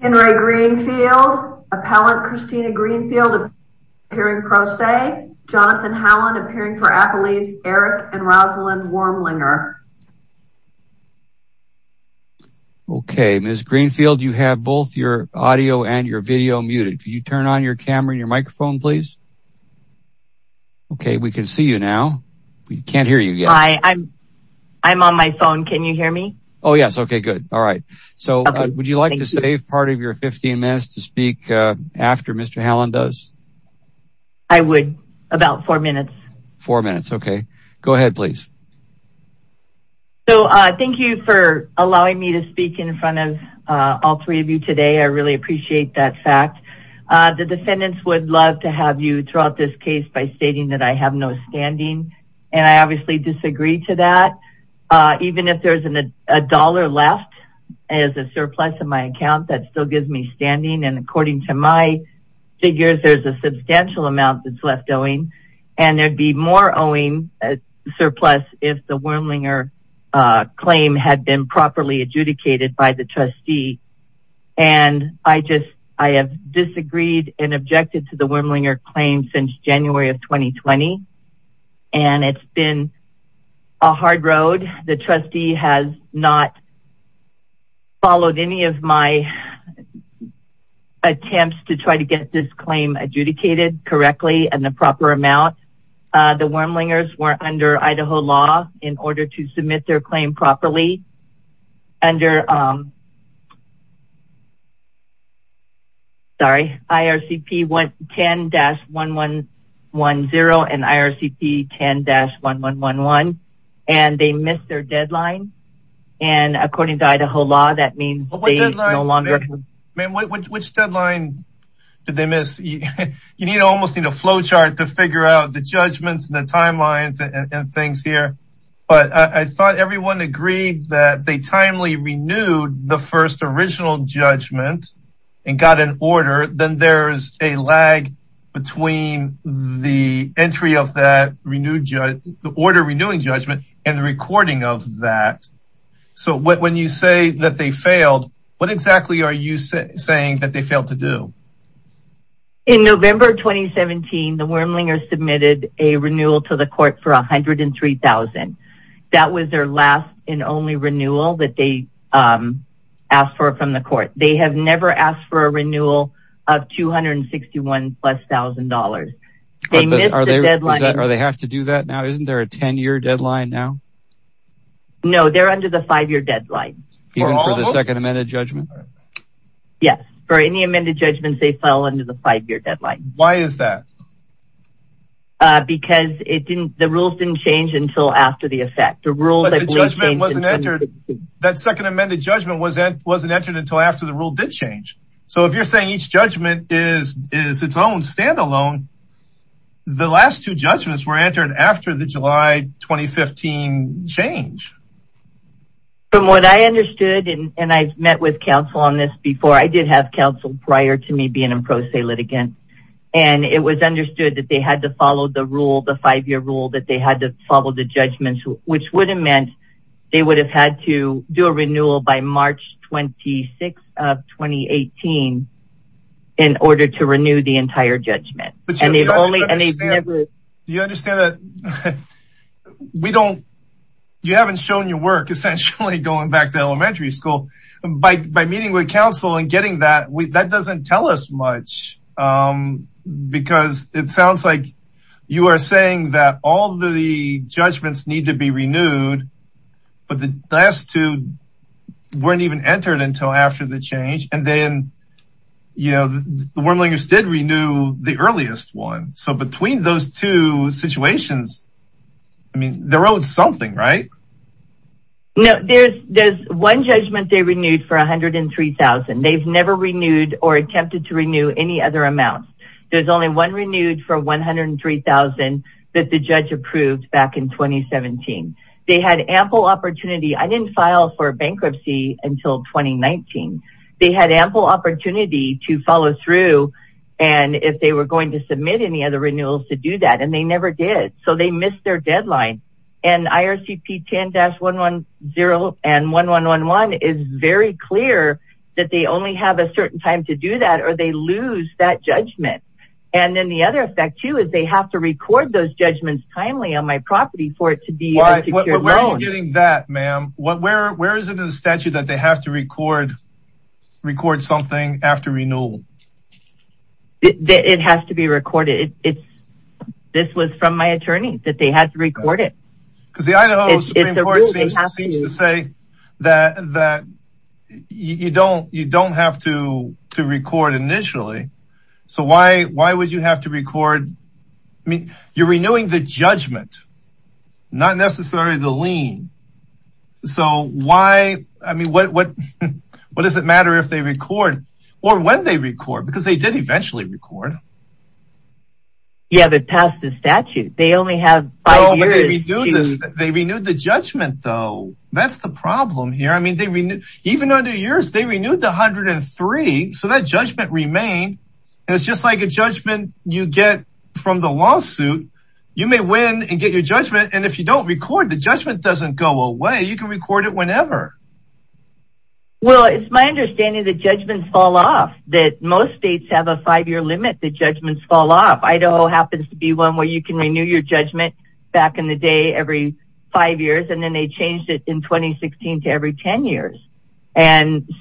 Henry Greenfield, appellant Christina Greenfield appearing pro se, Jonathan Howland appearing for Appalachia, Eric and Rosalind Wormlinger. Okay Ms. Greenfield you have both your audio and your video muted. Could you turn on your camera and your microphone please? Okay we can see you now. We can't hear you I'm on my phone can you hear me? Oh yes okay good all right so would you like to save part of your 15 minutes to speak after Mr. Howland does? I would about four minutes. Four minutes okay go ahead please. So thank you for allowing me to speak in front of all three of you today I really appreciate that fact. The defendants would love to have you throughout this case by stating that I have no standing and I obviously disagree to that even if there's an a dollar left as a surplus of my account that still gives me standing and according to my figures there's a substantial amount that's left owing and there'd be more owing surplus if the Wormlinger claim had been properly adjudicated by the trustee and I just I have disagreed and objected to the Wormlinger claim since January of 2020 and it's been a hard road. The trustee has not followed any of my attempts to try to get this claim adjudicated correctly and the proper amount. The Wormlingers were under Idaho law in order to submit their claim properly under sorry IRCP 10-1110 and IRCP 10-1111 and they missed their deadline and according to Idaho law that means no longer. Which deadline did they miss? You need almost need a flowchart to but I thought everyone agreed that they timely renewed the first original judgment and got an order then there's a lag between the entry of that renewed judge the order renewing judgment and the recording of that so when you say that they failed what exactly are you saying that they failed to do? In November 2017 the Wormlinger submitted a renewal to the court for a hundred and three thousand. That was their last and only renewal that they asked for from the court. They have never asked for a renewal of two hundred and sixty one plus thousand dollars. Are they have to do that now isn't there a 10-year deadline now? No they're under the five-year deadline. Even for the second amended judgment? Yes for any amended judgments they fell under the five-year deadline. Why is that? Because it didn't the rules didn't change until after the effect. That second amended judgment wasn't wasn't entered until after the rule did change so if you're saying each judgment is is its own standalone the last two judgments were entered after the July 2015 change. From what I understood and I've met with counsel on this before I did have counsel prior to me being in pro se litigant and it was understood that they had to follow the rule the five-year rule that they had to follow the judgments which would have meant they would have had to do a renewal by March 26 of 2018 in order to renew the entire judgment. Do you understand that we don't you haven't shown your work essentially going back to elementary school by meeting with counsel and getting that we that doesn't tell us much because it sounds like you are saying that all the judgments need to be renewed but the last two weren't even entered until after the change and then you know the Wormlingers did renew the earliest one so between those two situations I mean they're owed something right? No there's there's one judgment they renewed for a hundred and three thousand they've never renewed or attempted to renew any other amounts. There's only one renewed for 103,000 that the judge approved back in 2017. They had ample opportunity I didn't file for bankruptcy until 2019 they had ample opportunity to follow through and if they were going to submit any other renewals to do that and they never did so they missed their that they only have a certain time to do that or they lose that judgment and then the other effect too is they have to record those judgments timely on my property for it to be getting that ma'am what where where is it in the statute that they have to record record something after renewal it has to be recorded it's this was from my attorney that they had to record it because the you don't you don't have to to record initially so why why would you have to record I mean you're renewing the judgment not necessarily the lien so why I mean what what what does it matter if they record or when they record because they did eventually record you have it past the statute they only have they renewed the judgment though that's the problem here I mean they renew even under years they renewed the hundred and three so that judgment remained and it's just like a judgment you get from the lawsuit you may win and get your judgment and if you don't record the judgment doesn't go away you can record it whenever well it's my understanding the judgments fall off that most states have a five-year limit the judgments fall off Idaho happens to be one where you can renew your judgment back in the day every five years and then they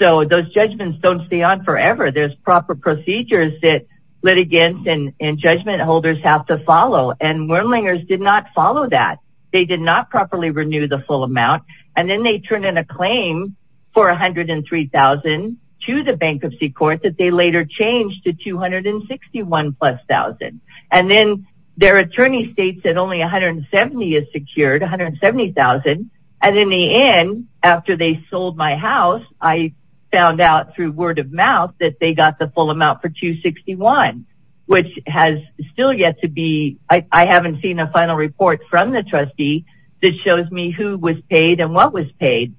so those judgments don't stay on forever there's proper procedures that litigants and judgment holders have to follow and whirling errs did not follow that they did not properly renew the full amount and then they turn in a claim for a hundred and three thousand to the bankruptcy court that they later changed to two hundred and sixty one plus thousand and then their attorney states that only a hundred and seventy is secured a hundred and seventy thousand and in the end after they sold my house I found out through word-of-mouth that they got the full amount for 261 which has still yet to be I haven't seen a final report from the trustee that shows me who was paid and what was paid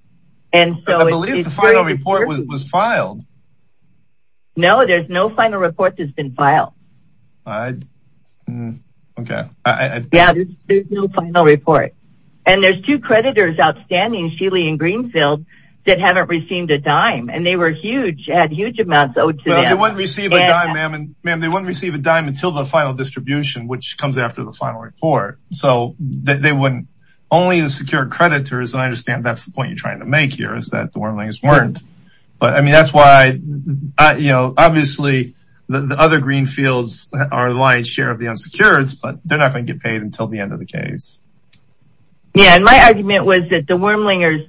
and so it is final report was filed no there's no final report that's been filed okay yeah no final report and there's two creditors outstanding Sheely and Greenfield that haven't received a dime and they were huge had huge amounts owed to them they wouldn't receive a dime ma'am and ma'am they wouldn't receive a dime until the final distribution which comes after the final report so they wouldn't only insecure creditors and I understand that's the point you're trying to make here is that the whirling is weren't but I mean that's why I you know obviously the other Greenfields are the lion's share of the unsecured but they're not going to get paid until the end of the case yeah and my argument was that the Wormlingers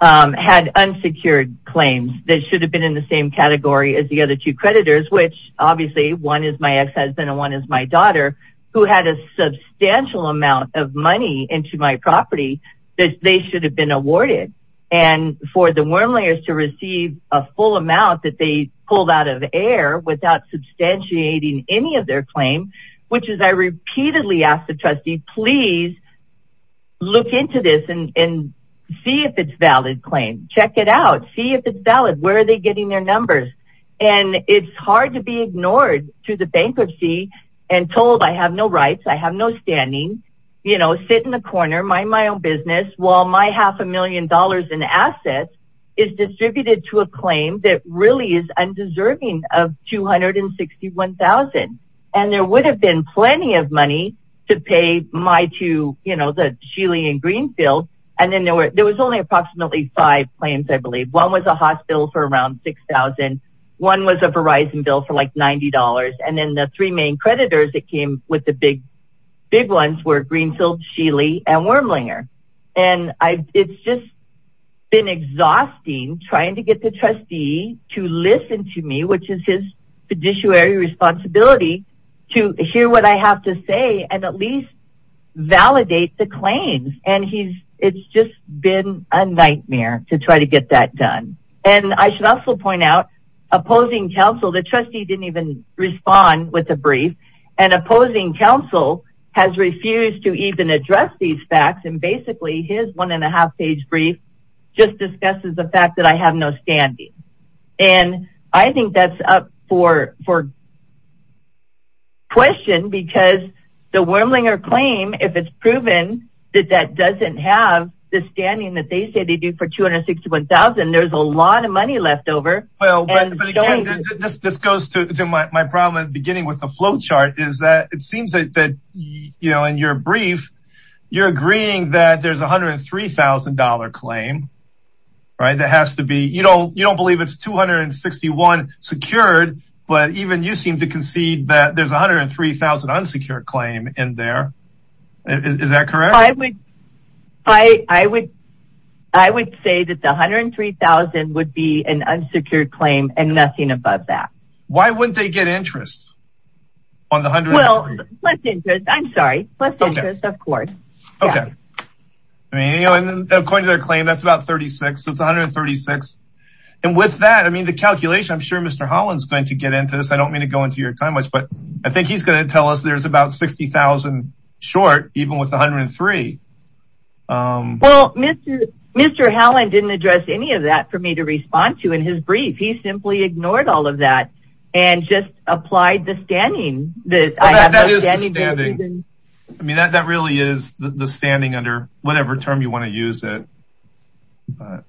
had unsecured claims that should have been in the same category as the other two creditors which obviously one is my ex-husband and one is my daughter who had a substantial amount of money into my property that they should have been awarded and for the Wormlingers to receive a full amount that they pulled out of the air without substantiating any of their claim which is I repeatedly asked the trustee please look into this and see if it's valid claim check it out see if it's valid where are they getting their numbers and it's hard to be ignored to the bankruptcy and told I have no rights I have no standing you know sit in the corner mind my own business while my million dollars in assets is distributed to a claim that really is undeserving of two hundred and sixty one thousand and there would have been plenty of money to pay my to you know the Sheely and Greenfield and then there were there was only approximately five claims I believe one was a hospital for around six thousand one was a Verizon bill for like ninety dollars and then the three main creditors that came with the big big ones were Greenfield Sheely and Wormlinger and I it's just been exhausting trying to get the trustee to listen to me which is his fiduciary responsibility to hear what I have to say and at least validate the claims and he's it's just been a nightmare to try to get that done and I should also point out opposing counsel the trustee didn't even respond with a brief and opposing counsel has refused to even address these facts and basically his one and a half page brief just discusses the fact that I have no standing and I think that's up for for question because the Wormlinger claim if it's proven that that doesn't have the standing that they say they do for two hundred sixty one thousand there's a lot of money left over well this goes to my problem at the beginning with the flowchart is that it you're agreeing that there's a hundred three thousand dollar claim right that has to be you know you don't believe it's two hundred and sixty one secured but even you seem to concede that there's a hundred and three thousand unsecured claim in there is that correct I would I I would I would say that the hundred and three thousand would be an unsecured claim and nothing above that why wouldn't they get interest on the hundred well I'm sorry of course okay I mean you know and according to their claim that's about 36 it's 136 and with that I mean the calculation I'm sure mr. Holland's going to get into this I don't mean to go into your time much but I think he's going to tell us there's about 60,000 short even with 103 well mr. mr. how I didn't address any of that for me to respond to in his brief he simply ignored all of that and just applied the standing I mean that really is the standing under whatever term you want to use it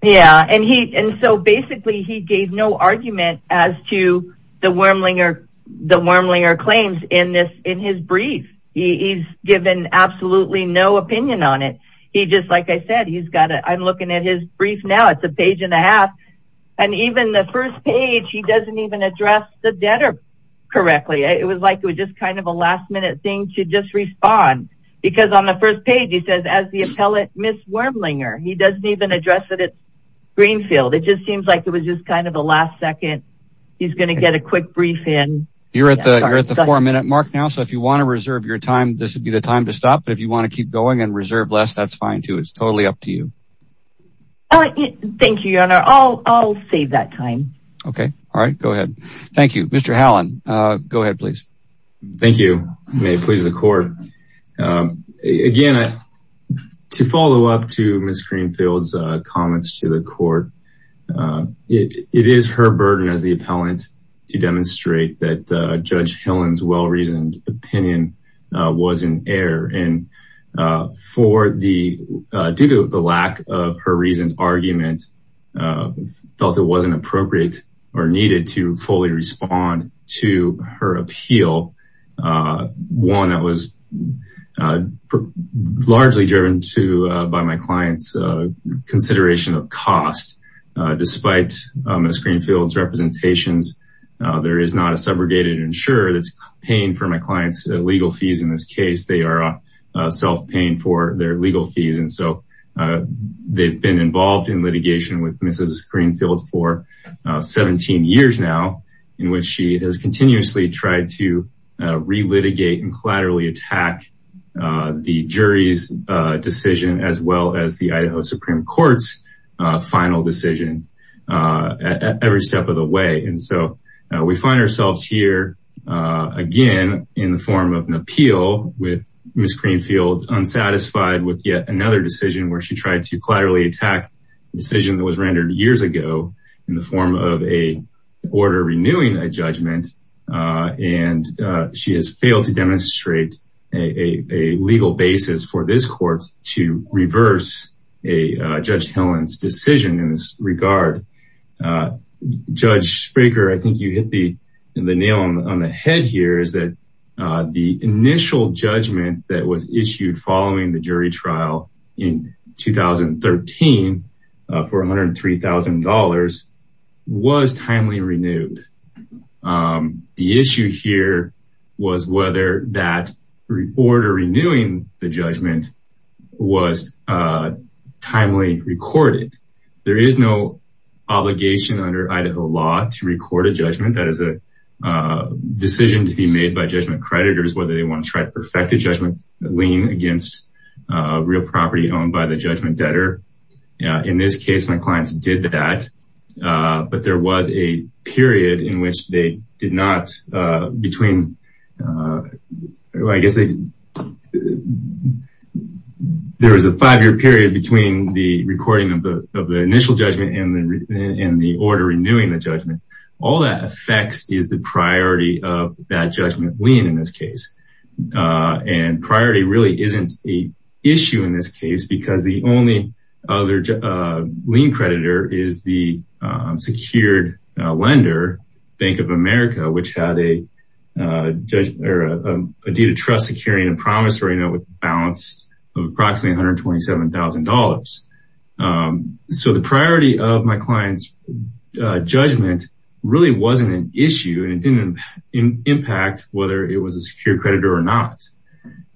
yeah and he and so basically he gave no argument as to the Wormlinger the Wormlinger claims in this in his brief he's given absolutely no opinion on it he just like I said he's got it I'm looking at his brief now it's a page and a half and even the first page he doesn't even address the debtor correctly it was like it was just kind of a last-minute thing to just respond because on the first page he says as the appellate miss Wormlinger he doesn't even address it at Greenfield it just seems like it was just kind of a last second he's gonna get a quick brief in you're at the minute mark now so if you want to reserve your time this would be the time to stop but if you want to keep going and reserve less that's fine too it's totally up to you oh thank you your honor I'll save that time okay all right go ahead thank you mr. Hallin go ahead please thank you may it please the court again to follow up to miss Greenfield's comments to the court it is her burden as the appellant to for the due to the lack of her recent argument felt it wasn't appropriate or needed to fully respond to her appeal one that was largely driven to by my clients consideration of cost despite miss Greenfield's representations there is not a subrogated insurer that's paying for my clients legal fees in this case they are self paying for their legal fees and so they've been involved in litigation with mrs. Greenfield for 17 years now in which she has continuously tried to relitigate and collaterally attack the jury's decision as well as the Idaho Supreme Court's final decision every step of the way and so we find ourselves here again in the form of an appeal with miss Greenfield unsatisfied with yet another decision where she tried to collaterally attack the decision that was rendered years ago in the form of a order renewing a judgment and she has failed to demonstrate a legal basis for this I think you hit the nail on the head here is that the initial judgment that was issued following the jury trial in 2013 for $103,000 was timely renewed the issue here was whether that report or renewing the judgment was timely recorded there is no obligation under Idaho law to record a judgment that is a decision to be made by judgment creditors whether they want to try to perfect the judgment leaning against real property owned by the judgment debtor in this case my clients did that but there was a period in which they did not between there is a five-year period between the recording of the initial judgment and the order renewing the judgment all that affects is the priority of that judgment lien in this case and priority really isn't a issue in this case because the only other lien creditor is the secured lender Bank of America which had a deed of trust securing a promissory note with a balance of approximately $127,000 so the priority of my clients judgment really wasn't an issue and it didn't impact whether it was a secure creditor or not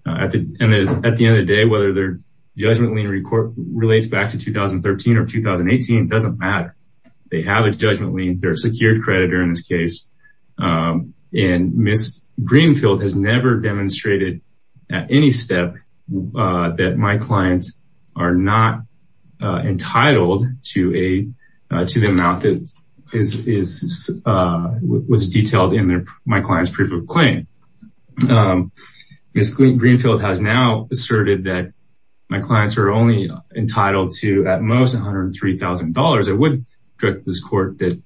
at the end of the day whether their judgment lien relates back to 2013 or 2018 doesn't matter they have a judgment lien their secured creditor in this case and miss Greenfield has never demonstrated at any step that my clients are not entitled to a to the amount that is was detailed in there my clients proof of claim miss Greenfield has now asserted that my clients are only entitled to at most $103,000 I would correct this court that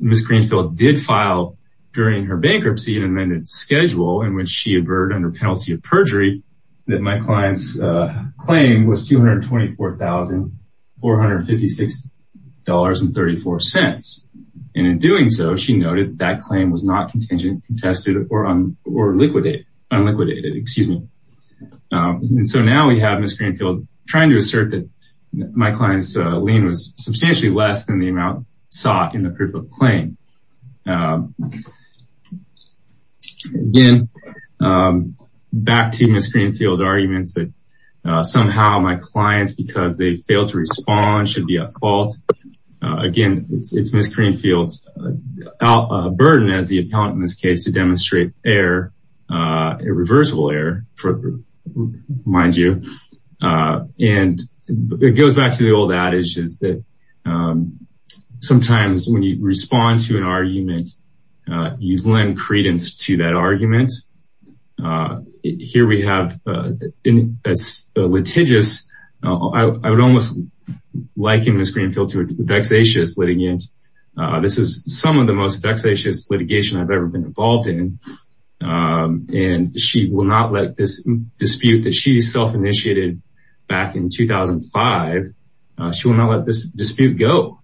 miss Greenfield did file during her bankruptcy an amended schedule in which she a bird under penalty of perjury that my clients claim was $224,456 and 34 cents and in doing so she noted that claim was not contingent contested or on or liquidate unliquidated excuse me so now we have miss Greenfield trying to assert that my clients lien was substantially less than the amount sought in the proof of claim again back to miss Greenfield's arguments that somehow my clients because they fail to respond should be a fault again it's miss Greenfield's burden as the appellant in this case to demonstrate error irreversible error for mind you and it goes back to the old adage is sometimes when you respond to an argument you lend credence to that argument here we have in its litigious I would almost like in the screen filter vexatious litigant this is some of the most vexatious litigation I've ever been involved in and she will not let this dispute that she self-initiated back in 2005 she will not let this dispute go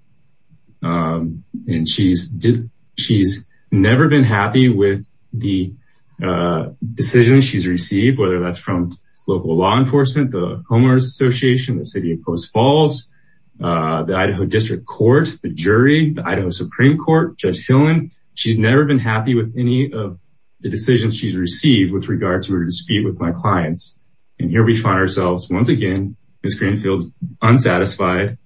and she's did she's never been happy with the decision she's received whether that's from local law enforcement the homeowners Association the city of Coast Falls the Idaho District Court the jury the Idaho Supreme Court judge Phelan she's never been happy with any of the decisions she's received with regard to her dispute with my clients and here we find ourselves once again miss Greenfield's unsatisfied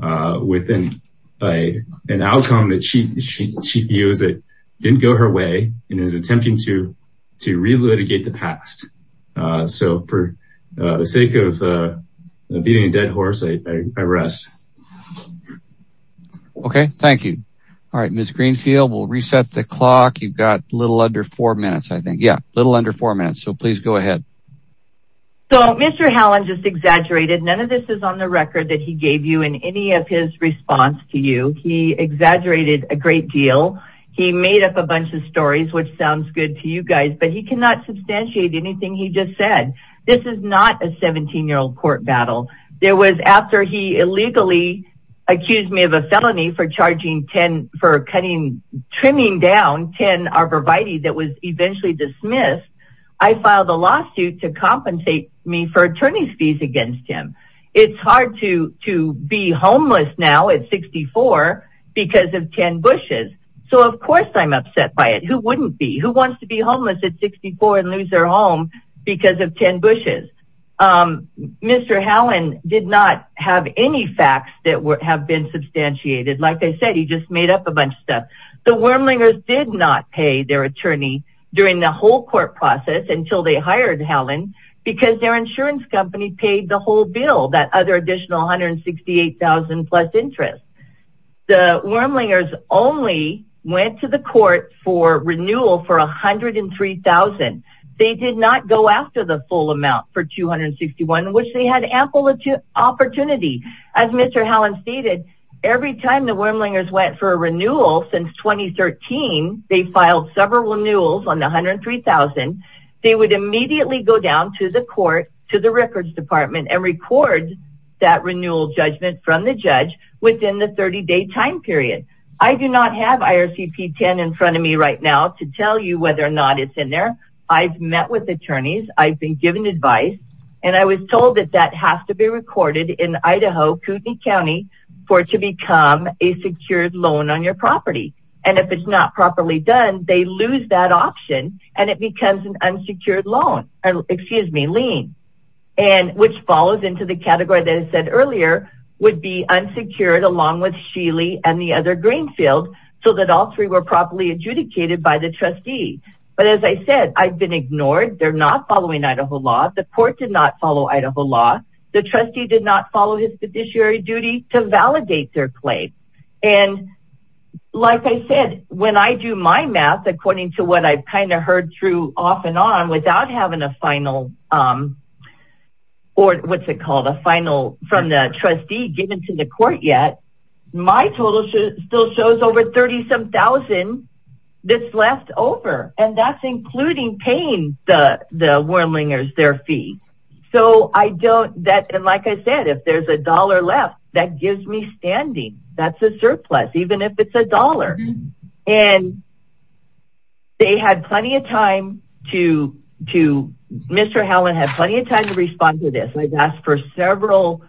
with an outcome that she used it didn't go her way and is attempting to to relitigate the past so for the sake of beating a dead horse I rest okay thank you all right miss Greenfield will reset the clock you've got a little under four minutes I think yeah little under four minutes so please go ahead so mr. how I'm just exaggerated none of this is on the record that he gave you in any of his response to you he exaggerated a great deal he made up a bunch of stories which sounds good to you guys but he cannot substantiate anything he just said this is not a 17 year old court battle there was after he illegally accused me of a felony for charging 10 for cutting trimming down 10 are provided that was eventually dismissed I filed a lawsuit to compensate me for attorney's fees against him it's hard to to be homeless now at 64 because of 10 bushes so of course I'm upset by it who wouldn't be who wants to be homeless at 64 and lose their home because of 10 bushes mr. Howlin did not have any facts that would have been substantiated like I said he just made up a bunch of stuff the during the whole court process until they hired Howlin because their insurance company paid the whole bill that other additional hundred and sixty eight thousand plus interest the Wyrmlingers only went to the court for renewal for a hundred and three thousand they did not go after the full amount for 261 which they had ample opportunity as mr. Howlin stated every time the renewals on the hundred three thousand they would immediately go down to the court to the records department and record that renewal judgment from the judge within the 30 day time period I do not have IRCP 10 in front of me right now to tell you whether or not it's in there I've met with attorneys I've been given advice and I was told that that has to be recorded in Idaho Kootenai County for it to become a secured loan on your property and if it's not properly done they lose that option and it becomes an unsecured loan and excuse me lien and which follows into the category that I said earlier would be unsecured along with Sheely and the other Greenfield so that all three were properly adjudicated by the trustee but as I said I've been ignored they're not following Idaho law the court did not follow Idaho law the trustee did not do my math according to what I've kind of heard through off and on without having a final or what's it called a final from the trustee given to the court yet my total should still shows over thirty some thousand that's left over and that's including pain the the whirling is their fee so I don't that and like I said if there's a dollar left that gives me standing that's a surplus even if it's a dollar and they had plenty of time to to mr. Helen had plenty of time to respond to this I've asked for several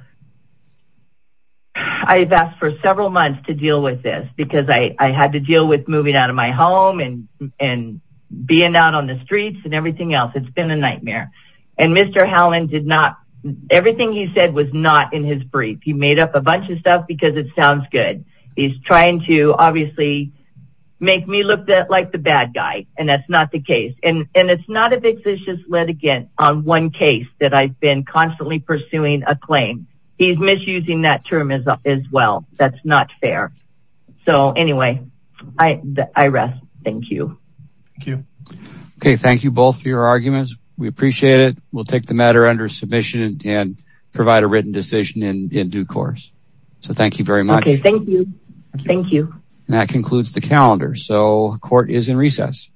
I've asked for several months to deal with this because I had to deal with moving out of my home and and being out on the streets and everything else it's been a nightmare and mr. Helen did not everything he said was not in his brief he made up a bunch of stuff because it sounds good he's trying to obviously make me look that like the bad guy and that's not the case and and it's not a big vicious litigant on one case that I've been constantly pursuing a claim he's misusing that term as well that's not fair so anyway I rest thank you okay thank you both for your arguments we appreciate it we'll take the matter under submission and provide a written decision in due course so thank you very much thank you thank you and that concludes the calendar so court is in recess